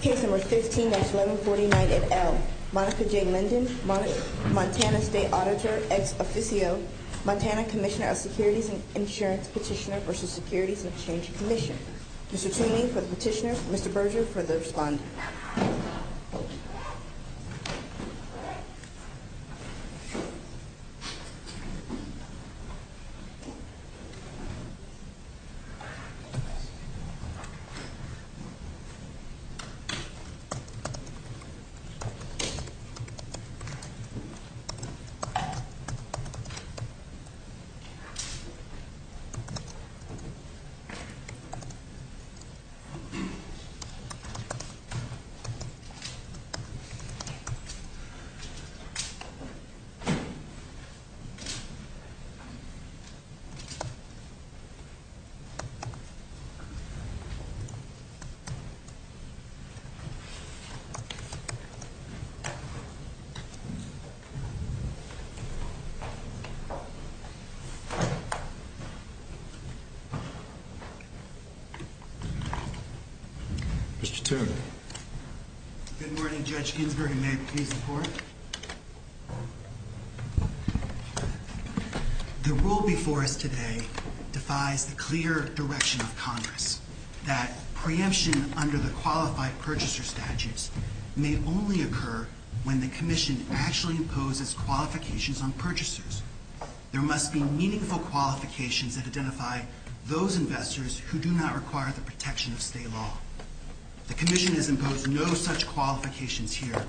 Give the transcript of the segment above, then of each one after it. Case number 15-1149 at L. Monica J. Linden, Montana State Auditor ex officio, Montana Commissioner of Securities and Insurance Petitioner v. Securities and Exchange Commission. Mr. Toomey for the petitioner, Mr. Berger for the respondent. Mr. Berger for the petitioner, Mr. Berger for the respondent. Mr. Toomey. Good morning, Judge Ginsburg, and may it please the Court. The rule before us today defies the clear direction of Congress that preemption under the Qualified Purchaser Statutes may only occur when the Commission actually imposes qualifications on purchasers. There must be meaningful qualifications that identify those investors who do not require the protection of state law. The Commission has imposed no such qualifications here.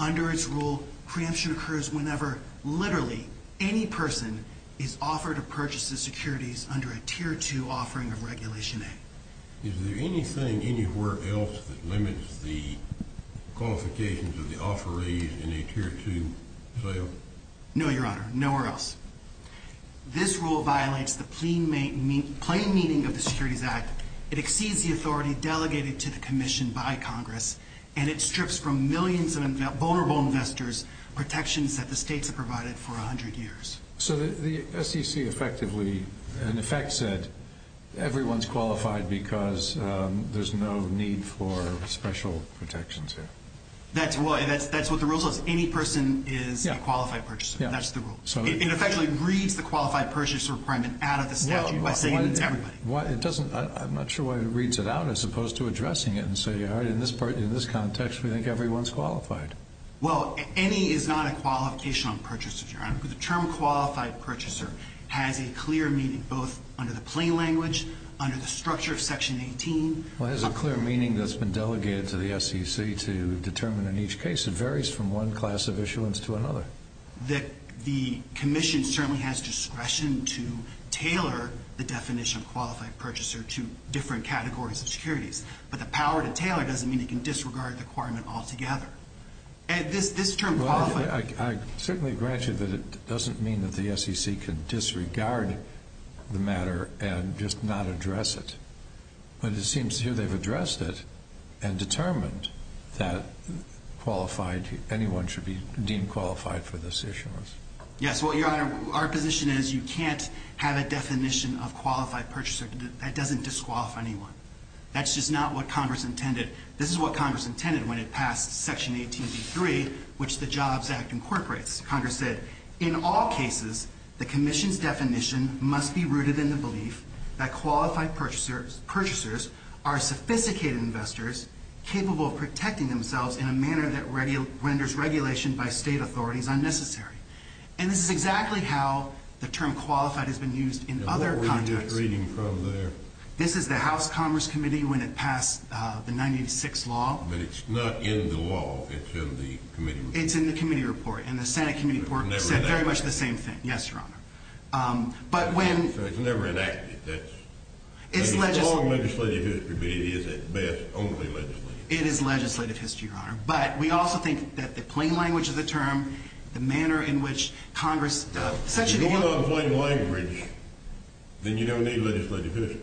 Under its rule, preemption occurs whenever literally any person is offered a purchase of securities under a Tier 2 offering of Regulation A. Is there anything anywhere else that limits the qualifications of the offerees in a Tier 2 sale? No, Your Honor, nowhere else. This rule violates the plain meaning of the Securities Act. It exceeds the authority delegated to the Commission by Congress, and it strips from millions of vulnerable investors protections that the states have provided for 100 years. So the SEC effectively, in effect, said everyone's qualified because there's no need for special protections here. That's what the rule says. Any person is a qualified purchaser. That's the rule. It effectively reads the qualified purchaser requirement out of the statute by saying it's everybody. I'm not sure why it reads it out as opposed to addressing it and saying, all right, in this context, we think everyone's qualified. Well, any is not a qualification on purchasers, Your Honor. The term qualified purchaser has a clear meaning both under the plain language, under the structure of Section 18. Well, it has a clear meaning that's been delegated to the SEC to determine in each case. It varies from one class of issuance to another. That the Commission certainly has discretion to tailor the definition of qualified purchaser to different categories of securities. But the power to tailor doesn't mean it can disregard the requirement altogether. And this term qualified. I certainly grant you that it doesn't mean that the SEC can disregard the matter and just not address it. But it seems here they've addressed it and determined that qualified, anyone should be deemed qualified for this issuance. Yes. Well, Your Honor, our position is you can't have a definition of qualified purchaser that doesn't disqualify anyone. That's just not what Congress intended. This is what Congress intended when it passed Section 18.3, which the JOBS Act incorporates. Congress said, in all cases, the Commission's definition must be rooted in the belief that qualified purchasers are sophisticated investors, capable of protecting themselves in a manner that renders regulation by state authorities unnecessary. And this is exactly how the term qualified has been used in other contexts. Now, what were you just reading from there? This is the House Commerce Committee when it passed the 1986 law. But it's not in the law. It's in the committee report. And the Senate committee report said very much the same thing. It was never enacted. Yes, Your Honor. In fact, it was never enacted. It's long legislative history, but it is at best only legislative. It is legislative history, Your Honor. But we also think that the plain language of the term, the manner in which Congress essentially— If you're going on plain language, then you don't need legislative history.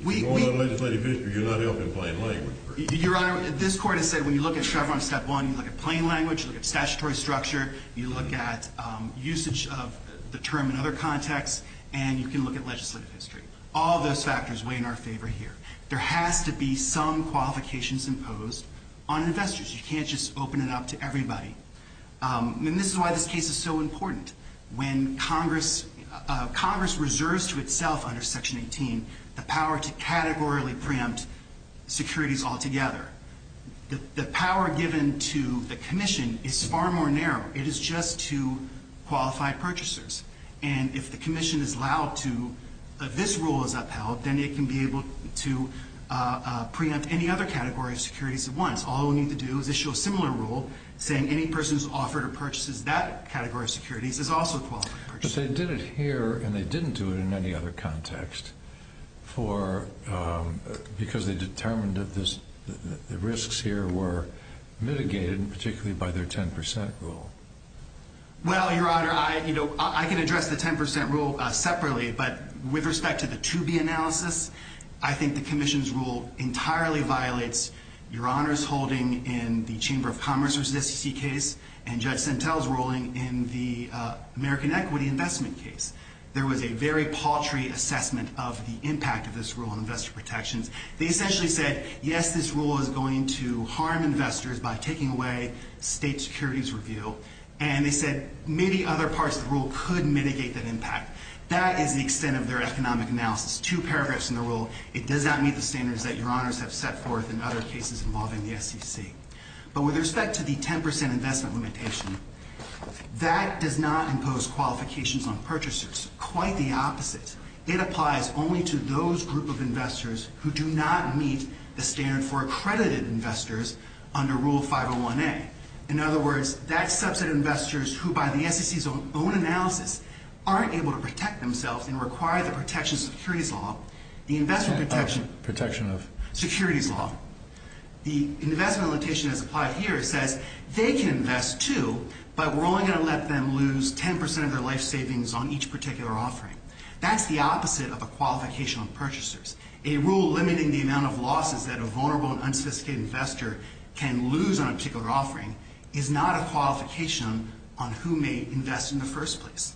If you're going on legislative history, you're not helping plain language. Your Honor, this Court has said when you look at Chevron Step 1, you look at plain language, you look at statutory structure, you look at usage of the term in other contexts, and you can look at legislative history. All those factors weigh in our favor here. There has to be some qualifications imposed on investors. You can't just open it up to everybody. And this is why this case is so important. When Congress—Congress reserves to itself under Section 18 the power to categorically preempt securities altogether. The power given to the commission is far more narrow. It is just to qualified purchasers. And if the commission is allowed to—if this rule is upheld, then it can be able to preempt any other category of securities at once. All we need to do is issue a similar rule saying any person who's offered or purchases that category of securities is also a qualified purchaser. But they did it here, and they didn't do it in any other context for—because they determined that the risks here were mitigated, particularly by their 10 percent rule. Well, Your Honor, I can address the 10 percent rule separately, but with respect to the 2B analysis, I think the commission's rule entirely violates Your Honor's holding in the Chamber of Commerce v. SEC case and Judge Sentelle's ruling in the American Equity Investment case. There was a very paltry assessment of the impact of this rule on investor protections. They essentially said, yes, this rule is going to harm investors by taking away state securities review. And they said many other parts of the rule could mitigate that impact. That is the extent of their economic analysis. Two paragraphs in the rule, it does not meet the standards that Your Honors have set forth in other cases involving the SEC. But with respect to the 10 percent investment limitation, that does not impose qualifications on purchasers. Quite the opposite. It applies only to those group of investors who do not meet the standard for accredited investors under Rule 501A. In other words, that subset of investors who, by the SEC's own analysis, aren't able to protect themselves and require the protection of securities law, the investment protection of securities law. The investment limitation that's applied here says they can invest too, but we're only going to let them lose 10 percent of their life savings on each particular offering. That's the opposite of a qualification on purchasers, A rule limiting the amount of losses that a vulnerable and unsophisticated investor can lose on a particular offering is not a qualification on who may invest in the first place.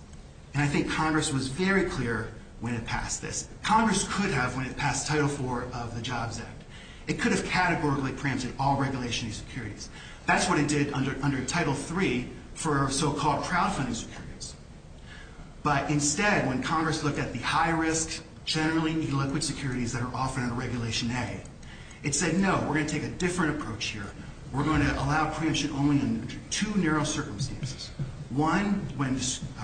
And I think Congress was very clear when it passed this. Congress could have when it passed Title IV of the JOBS Act. It could have categorically preempted all regulation of securities. That's what it did under Title III for so-called crowdfunding securities. But instead, when Congress looked at the high-risk, generally illiquid securities that are offered under Regulation A, it said, no, we're going to take a different approach here. We're going to allow preemption only in two narrow circumstances. One, when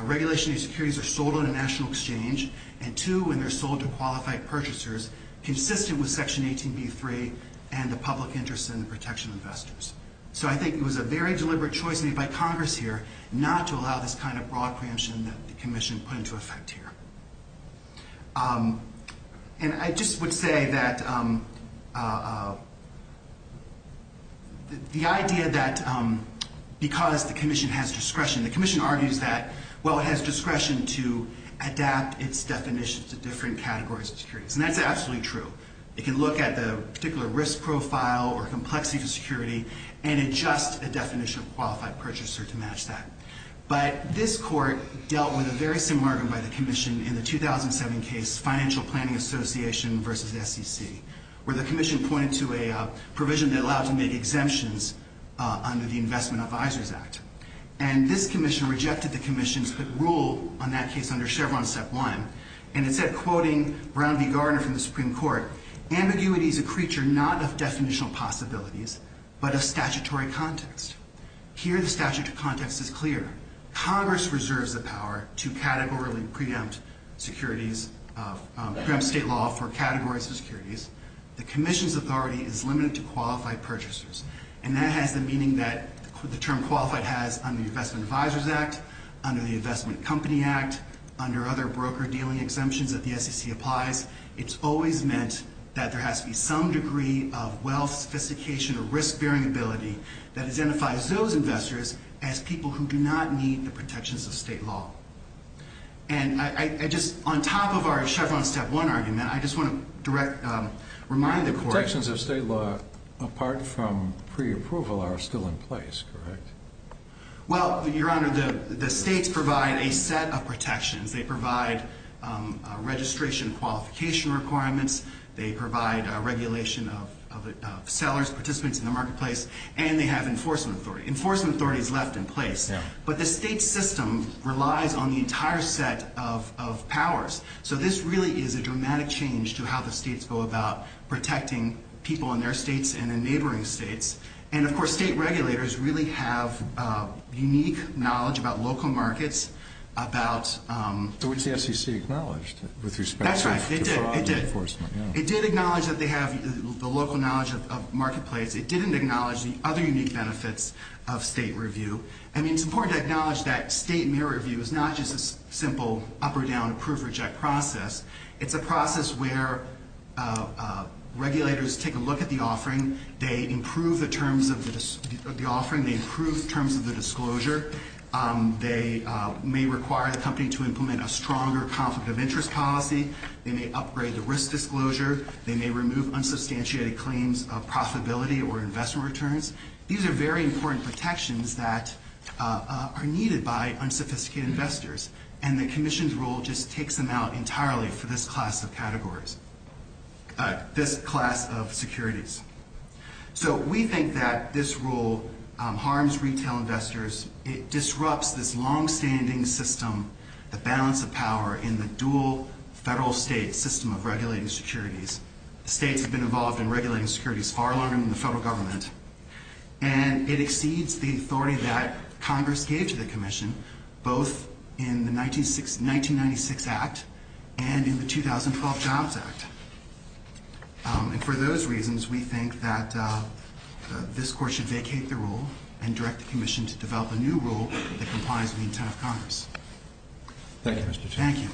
regulation of securities are sold on a national exchange, and two, when they're sold to qualified purchasers consistent with Section 18b-3 and the public interest in the protection of investors. So I think it was a very deliberate choice made by Congress here not to allow this kind of broad preemption that the Commission put into effect here. And I just would say that the idea that because the Commission has discretion, the Commission argues that, well, it has discretion to adapt its definitions to different categories of securities. And that's absolutely true. It can look at the particular risk profile or complexity to security and adjust a definition of qualified purchaser to match that. But this Court dealt with a very similar argument by the Commission in the 2007 case, Financial Planning Association v. SEC, where the Commission pointed to a provision that allowed to make exemptions under the Investment Advisors Act. And this Commission rejected the Commission's rule on that case under Chevron Step 1. And it said, quoting Brown v. Garner from the Supreme Court, ambiguity is a creature not of definitional possibilities but of statutory context. Here the statutory context is clear. Congress reserves the power to categorically preempt securities, preempt state law for categories of securities. The Commission's authority is limited to qualified purchasers. And that has the meaning that the term qualified has under the Investment Advisors Act, under the Investment Company Act, under other broker-dealing exemptions that the SEC applies, it's always meant that there has to be some degree of wealth, sophistication, or risk-bearing ability that identifies those investors as people who do not need the protections of state law. And I just, on top of our Chevron Step 1 argument, I just want to direct, remind the Court. The protections of state law, apart from preapproval, are still in place, correct? Well, Your Honor, the states provide a set of protections. They provide registration qualification requirements. They provide regulation of sellers, participants in the marketplace, and they have enforcement authority. Enforcement authority is left in place. But the state system relies on the entire set of powers. So this really is a dramatic change to how the states go about protecting people in their states and in neighboring states. And, of course, state regulators really have unique knowledge about local markets, about ‑‑ Which the SEC acknowledged with respect to fraud enforcement. That's right. It did. It did. It did acknowledge that they have the local knowledge of marketplace. It didn't acknowledge the other unique benefits of state review. I mean, it's important to acknowledge that state mirror review is not just a simple up or down approve-reject process. It's a process where regulators take a look at the offering. They improve the terms of the offering. They improve terms of the disclosure. They may require the company to implement a stronger conflict of interest policy. They may upgrade the risk disclosure. They may remove unsubstantiated claims of profitability or investment returns. These are very important protections that are needed by unsophisticated investors. And the commission's rule just takes them out entirely for this class of categories. This class of securities. So we think that this rule harms retail investors. It disrupts this longstanding system, the balance of power in the dual federal state system of regulating securities. The states have been involved in regulating securities far longer than the federal government. And it exceeds the authority that Congress gave to the commission, both in the 1996 Act and in the 2012 Jobs Act. And for those reasons, we think that this court should vacate the rule and direct the commission to develop a new rule that complies with the intent of Congress. Thank you, Mr. Chairman. Thank you. Thank you.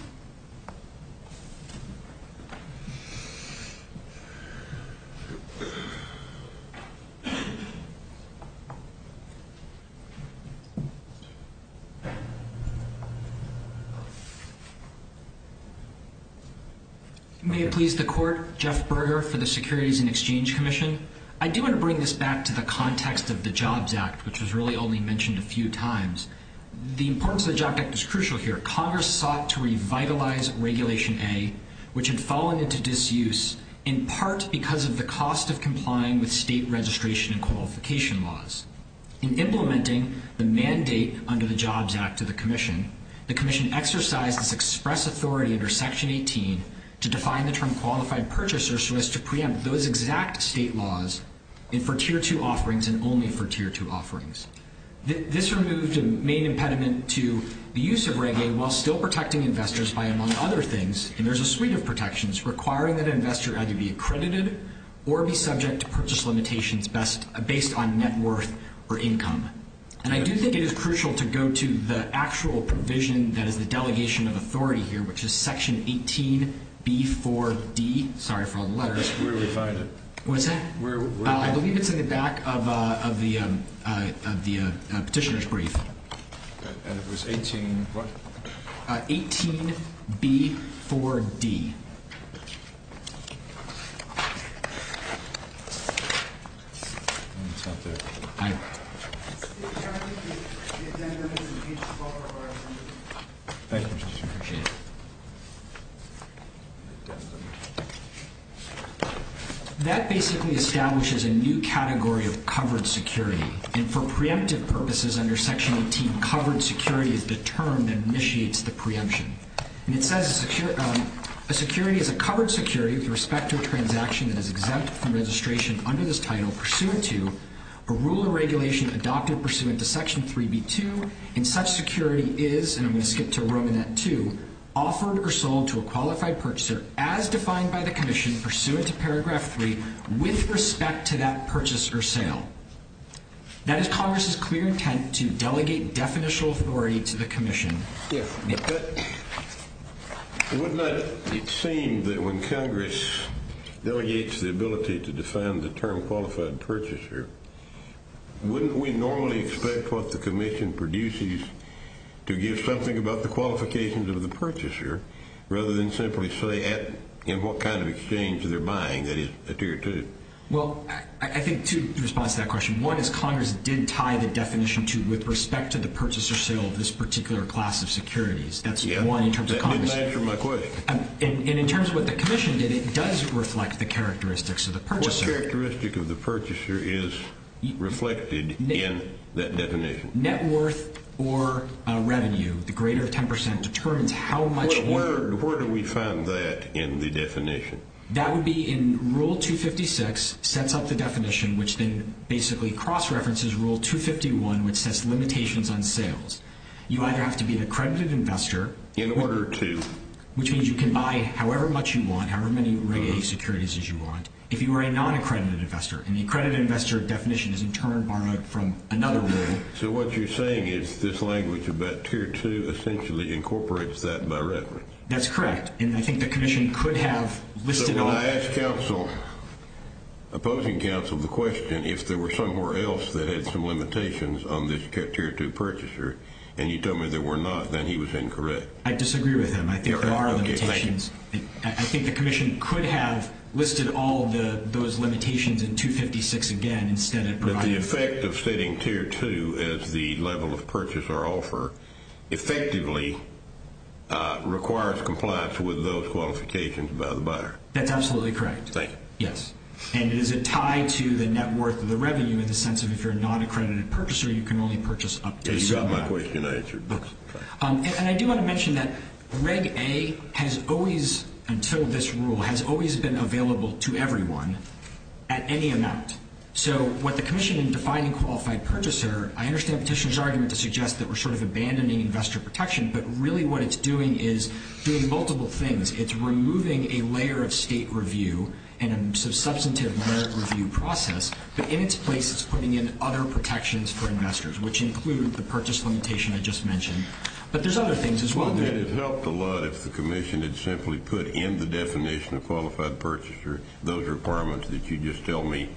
May it please the court, Jeff Berger for the Securities and Exchange Commission. I do want to bring this back to the context of the Jobs Act, which was really only mentioned a few times. The importance of the Jobs Act is crucial here. Congress sought to revitalize Regulation A, which had fallen into disuse, in part because of the cost of complying with state registration and qualification laws. In implementing the mandate under the Jobs Act to the commission, the commission exercised its express authority under Section 18 to define the term qualified purchaser so as to preempt those exact state laws for Tier 2 offerings and only for Tier 2 offerings. This removed the main impediment to the use of Reg A while still protecting investors by, among other things, and there's a suite of protections requiring that an investor either be accredited or be subject to purchase limitations based on net worth or income. And I do think it is crucial to go to the actual provision that is the delegation of authority here, which is Section 18B4D. Sorry for all the letters. Where did we find it? What's that? I believe it's in the back of the petitioner's brief. And it was 18 what? 18B4D. That basically establishes a new category of covered security, and for preemptive purposes under Section 18, covered security is the term that initiates the preemption. And it says a security is a covered security with respect to a transaction that is exempt from registration under this title pursuant to a rule or regulation adopted pursuant to Section 3B2, and such security is, and I'm going to skip to Romanet 2, offered or sold to a qualified purchaser as defined by the commission pursuant to Paragraph 3 with respect to that purchase or sale. That is Congress's clear intent to delegate definitional authority to the commission. Yes. But wouldn't it seem that when Congress delegates the ability to define the term qualified purchaser, wouldn't we normally expect what the commission produces to give something about the qualifications of the purchaser rather than simply say in what kind of exchange they're buying, that is, a tier 2? Well, I think two responses to that question. One is Congress did tie the definition with respect to the purchase or sale of this particular class of securities. That's one in terms of Congress. That didn't answer my question. And in terms of what the commission did, it does reflect the characteristics of the purchaser. What characteristic of the purchaser is reflected in that definition? Net worth or revenue, the greater 10%, determines how much you. Where do we find that in the definition? That would be in Rule 256, sets up the definition, which then basically cross-references Rule 251, which sets limitations on sales. You either have to be an accredited investor. In order to. Which means you can buy however much you want, however many regular securities as you want, if you were a non-accredited investor. And the accredited investor definition is, in turn, borrowed from another rule. So what you're saying is this language about tier 2 essentially incorporates that by reference? That's correct. And I think the commission could have listed all. Well, I asked opposing counsel the question, if there were somewhere else that had some limitations on this tier 2 purchaser, and you told me there were not, then he was incorrect. I disagree with him. I think there are limitations. I think the commission could have listed all those limitations in 256 again instead of providing. But the effect of stating tier 2 as the level of purchase or offer effectively requires compliance with those qualifications by the buyer. That's absolutely correct. Thank you. Yes. And is it tied to the net worth of the revenue in the sense of if you're a non-accredited purchaser, you can only purchase up to a certain amount. You got my question answered. And I do want to mention that Reg A has always, until this rule, has always been available to everyone at any amount. So what the commission in defining qualified purchaser, I understand Petitioner's argument to suggest that we're sort of abandoning investor protection, but really what it's doing is doing multiple things. It's removing a layer of state review and a substantive merit review process, but in its place it's putting in other protections for investors, which include the purchase limitation I just mentioned. But there's other things as well. Well, then it helped a lot if the commission had simply put in the definition of qualified purchaser those requirements that you just tell me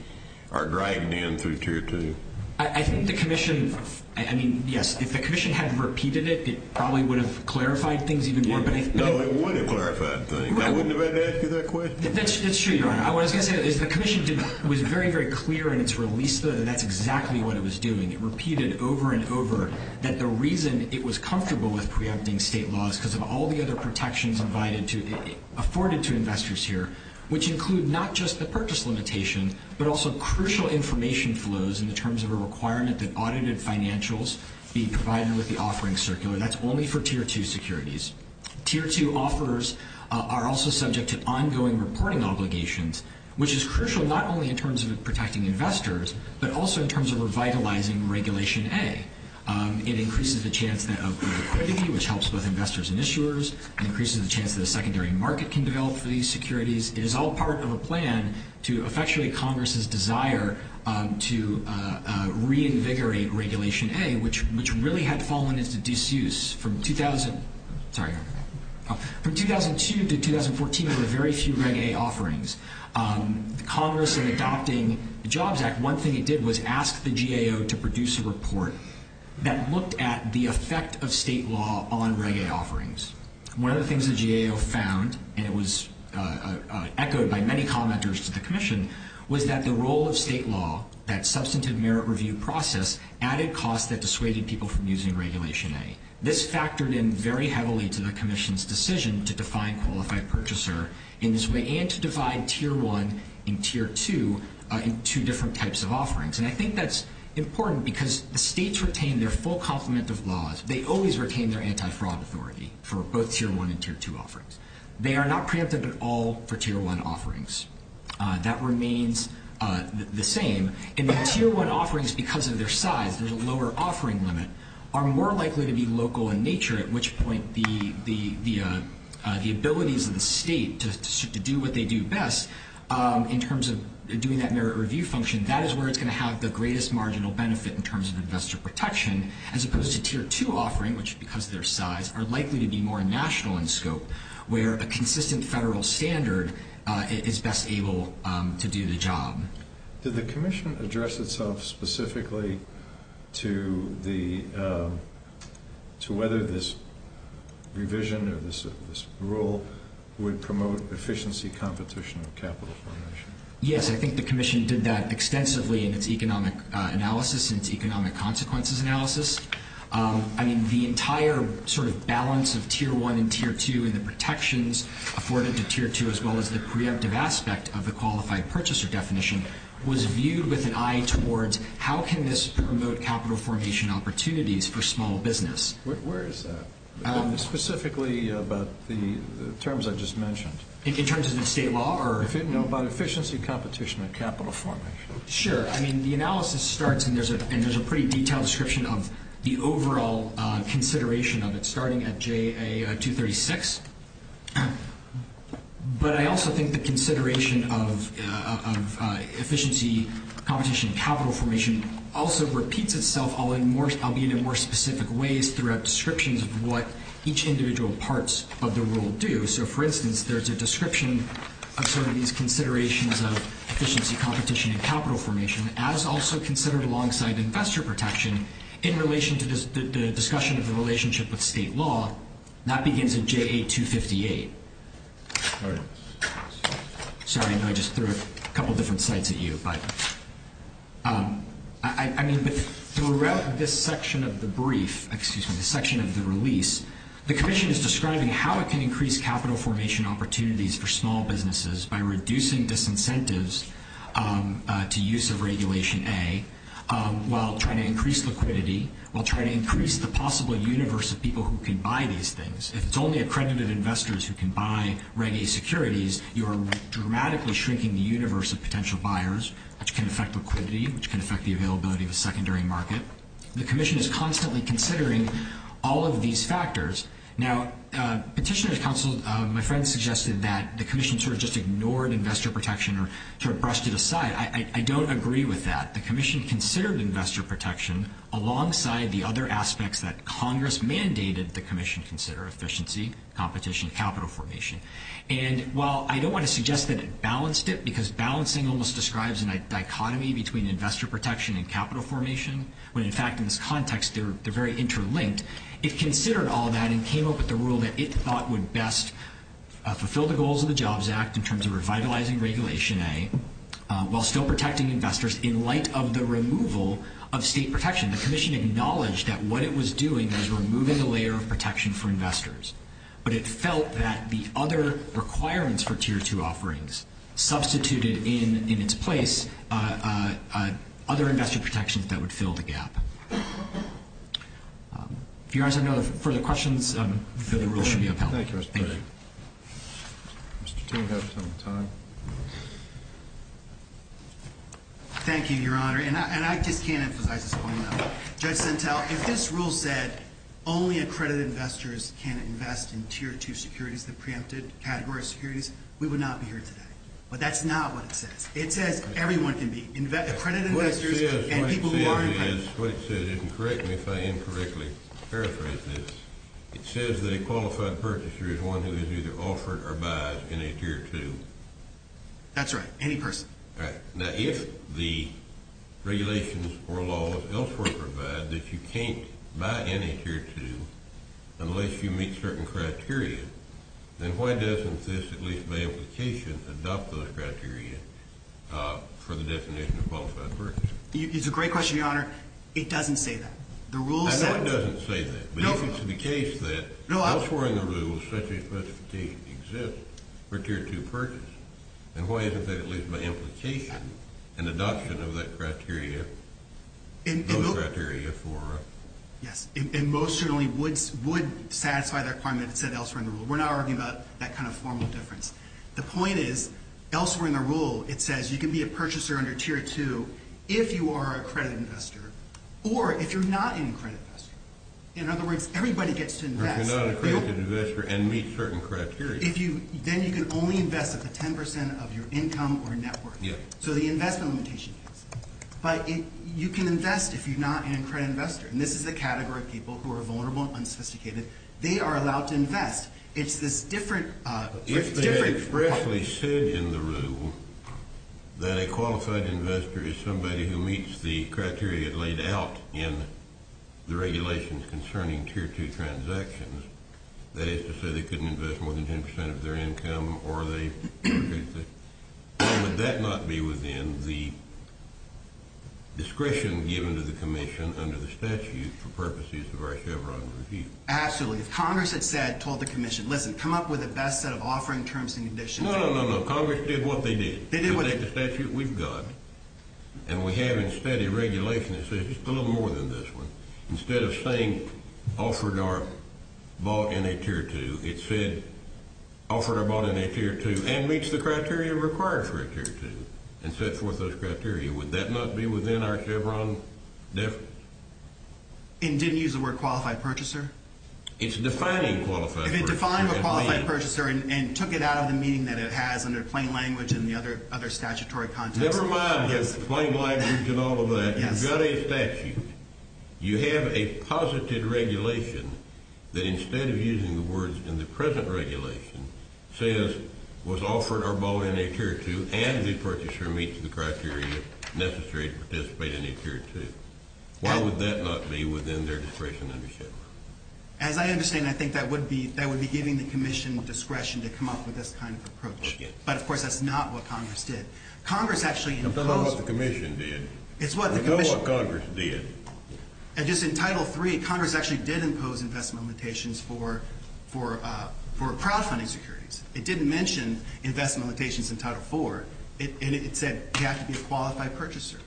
are dragged in through tier 2. I think the commission, I mean, yes, if the commission had repeated it, it probably would have clarified things even more. No, it would have clarified things. I wouldn't have had to ask you that question. That's true, Your Honor. What I was going to say is the commission was very, very clear in its release that that's exactly what it was doing. It repeated over and over that the reason it was comfortable with preempting state laws because of all the other protections afforded to investors here, which include not just the purchase limitation, but also crucial information flows in terms of a requirement that audited financials be provided with the offering circular. That's only for tier 2 securities. Tier 2 offers are also subject to ongoing reporting obligations, which is crucial not only in terms of protecting investors, but also in terms of revitalizing Regulation A. It increases the chance of equity, which helps both investors and issuers. It increases the chance that a secondary market can develop for these securities. It is all part of a plan to effectuate Congress's desire to reinvigorate Regulation A, which really had fallen into disuse. From 2002 to 2014, there were very few Reg A offerings. Congress, in adopting the JOBS Act, one thing it did was ask the GAO to produce a report that looked at the effect of state law on Reg A offerings. One of the things the GAO found, and it was echoed by many commenters to the commission, was that the role of state law, that substantive merit review process, added costs that dissuaded people from using Regulation A. This factored in very heavily to the commission's decision to define qualified purchaser in this way and to divide tier 1 and tier 2 into different types of offerings. And I think that's important because the states retain their full complement of laws. They always retain their anti-fraud authority for both tier 1 and tier 2 offerings. They are not preemptive at all for tier 1 offerings. That remains the same. Tier 1 offerings, because of their size, there's a lower offering limit, are more likely to be local in nature, at which point the abilities of the state to do what they do best in terms of doing that merit review function, that is where it's going to have the greatest marginal benefit in terms of investor protection, as opposed to tier 2 offering, which, because of their size, are likely to be more national in scope, where a consistent federal standard is best able to do the job. Did the commission address itself specifically to whether this revision or this rule would promote efficiency competition of capital formation? Yes, I think the commission did that extensively in its economic analysis and its economic consequences analysis. I mean, the entire sort of balance of tier 1 and tier 2 and the protections afforded to tier 2, as well as the preemptive aspect of the qualified purchaser definition, was viewed with an eye towards how can this promote capital formation opportunities for small business. Where is that? Specifically about the terms I just mentioned. In terms of the state law? No, about efficiency competition of capital formation. Sure. I mean, the analysis starts, and there's a pretty detailed description of the overall consideration of it, starting at JA 236. But I also think the consideration of efficiency competition of capital formation also repeats itself, albeit in more specific ways throughout descriptions of what each individual parts of the rule do. So, for instance, there's a description of some of these considerations of efficiency competition of capital formation, as also considered alongside investor protection in relation to the discussion of the relationship with state law. That begins at JA 258. Sorry, I know I just threw a couple different sites at you, but I mean, throughout this section of the brief, excuse me, the section of the release, the commission is describing how it can increase capital formation opportunities for small businesses by reducing disincentives to use of Regulation A while trying to increase liquidity, while trying to increase the possible universe of people who can buy these things. If it's only accredited investors who can buy Reg A securities, you are dramatically shrinking the universe of potential buyers, which can affect liquidity, which can affect the availability of a secondary market. The commission is constantly considering all of these factors. Now, Petitioner's Counsel, my friend, suggested that the commission sort of just ignored investor protection or sort of brushed it aside. I don't agree with that. The commission considered investor protection alongside the other aspects that Congress mandated the commission consider, efficiency, competition, capital formation. And while I don't want to suggest that it balanced it, because balancing almost describes a dichotomy between investor protection and capital formation, when, in fact, in this context, they're very interlinked, it considered all that and came up with a rule that it thought would best fulfill the goals of the Jobs Act in terms of revitalizing Regulation A while still protecting investors in light of the removal of state protection. The commission acknowledged that what it was doing was removing a layer of protection for investors, but it felt that the other requirements for Tier 2 offerings substituted in its place other investor protections that would fill the gap. If you guys have no further questions, the rule should be upheld. Thank you, Mr. President. Thank you. Thank you, Your Honor. And I just can't emphasize this point enough. Judge Sentel, if this rule said only accredited investors can invest in Tier 2 securities, the preempted category of securities, we would not be here today. But that's not what it says. It says everyone can be accredited investors and people who are in credit. What it says is, and correct me if I incorrectly paraphrase this, it says that a qualified purchaser is one who is either offered or buys in a Tier 2. That's right, any person. All right. Now, if the regulations or laws elsewhere provide that you can't buy in a Tier 2 unless you meet certain criteria, then why doesn't this, at least by implication, adopt those criteria for the definition of qualified purchaser? It's a great question, Your Honor. It doesn't say that. I know it doesn't say that. But if it's the case that elsewhere in the rules such a specificity exists for Tier 2 purchase, then why isn't that, at least by implication, an adoption of that criteria, those criteria for it? Yes, and most certainly would satisfy that requirement if it said elsewhere in the rule. We're not arguing about that kind of formal difference. The point is, elsewhere in the rule, it says you can be a purchaser under Tier 2 if you are a credit investor or if you're not a credit investor. In other words, everybody gets to invest. If you're not a credit investor and meet certain criteria. Then you can only invest up to 10 percent of your income or net worth. So the investment limitation case. But you can invest if you're not a credit investor. And this is the category of people who are vulnerable and unsophisticated. They are allowed to invest. It's this different – If they expressly said in the rule that a qualified investor is somebody who meets the criteria laid out in the regulations concerning Tier 2 transactions, that is to say they couldn't invest more than 10 percent of their income or they – would that not be within the discretion given to the commission under the statute for purposes of our Chevron review? Absolutely. If Congress had said, told the commission, listen, come up with the best set of offering terms and conditions – No, no, no, no. Congress did what they did. They did what they – Because that's the statute we've got. And we have in steady regulation that says just a little more than this one. Instead of saying offered or bought in a Tier 2, it said offered or bought in a Tier 2 and meets the criteria required for a Tier 2 and set forth those criteria. Would that not be within our Chevron definition? And didn't use the word qualified purchaser? It's defining qualified purchaser. If it defined a qualified purchaser and took it out of the meaning that it has under plain language and the other statutory context – Never mind the plain language and all of that. Yes. You've got a statute. You have a positive regulation that instead of using the words in the present regulation says was offered or bought in a Tier 2 and the purchaser meets the criteria necessary to participate in a Tier 2. Why would that not be within their discretion under Chevron? As I understand, I think that would be giving the commission discretion to come up with this kind of approach. But, of course, that's not what Congress did. Congress actually imposed – I don't know what the commission did. It's what the commission – I know what Congress did. Just in Title 3, Congress actually did impose investment limitations for crowdfunding securities. It didn't mention investment limitations in Title 4. And it said you have to be a qualified purchaser.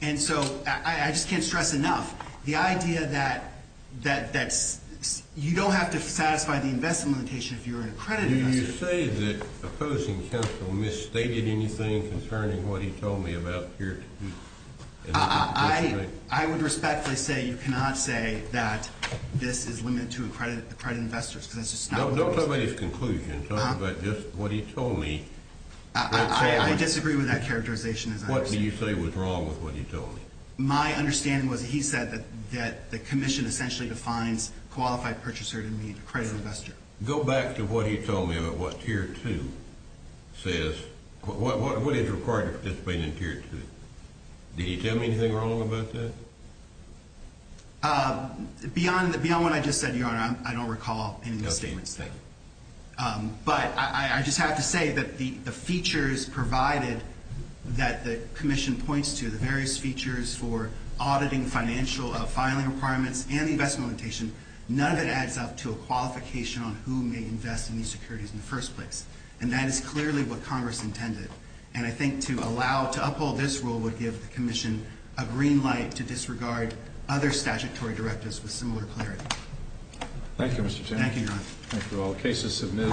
And so I just can't stress enough the idea that you don't have to satisfy the investment limitation if you're an accredited investor. Did you say that opposing counsel misstated anything concerning what he told me about Tier 2? I would respectfully say you cannot say that this is limited to accredited investors because that's just not what it was. Don't talk about his conclusion. Talk about just what he told me. I disagree with that characterization, as I understand it. What do you say was wrong with what he told you? My understanding was he said that the commission essentially defines qualified purchaser to mean accredited investor. Go back to what he told me about what Tier 2 says – what is required to participate in Tier 2. Did he tell me anything wrong about that? Beyond what I just said, Your Honor, I don't recall any of the statements there. But I just have to say that the features provided that the commission points to, the various features for auditing financial filing requirements and the investment limitation, none of it adds up to a qualification on who may invest in these securities in the first place. And that is clearly what Congress intended. And I think to allow – to uphold this rule would give the commission a green light to disregard other statutory directives with similar clarity. Thank you, Mr. Chairman. Thank you, Your Honor. Thank you all. Case is submitted.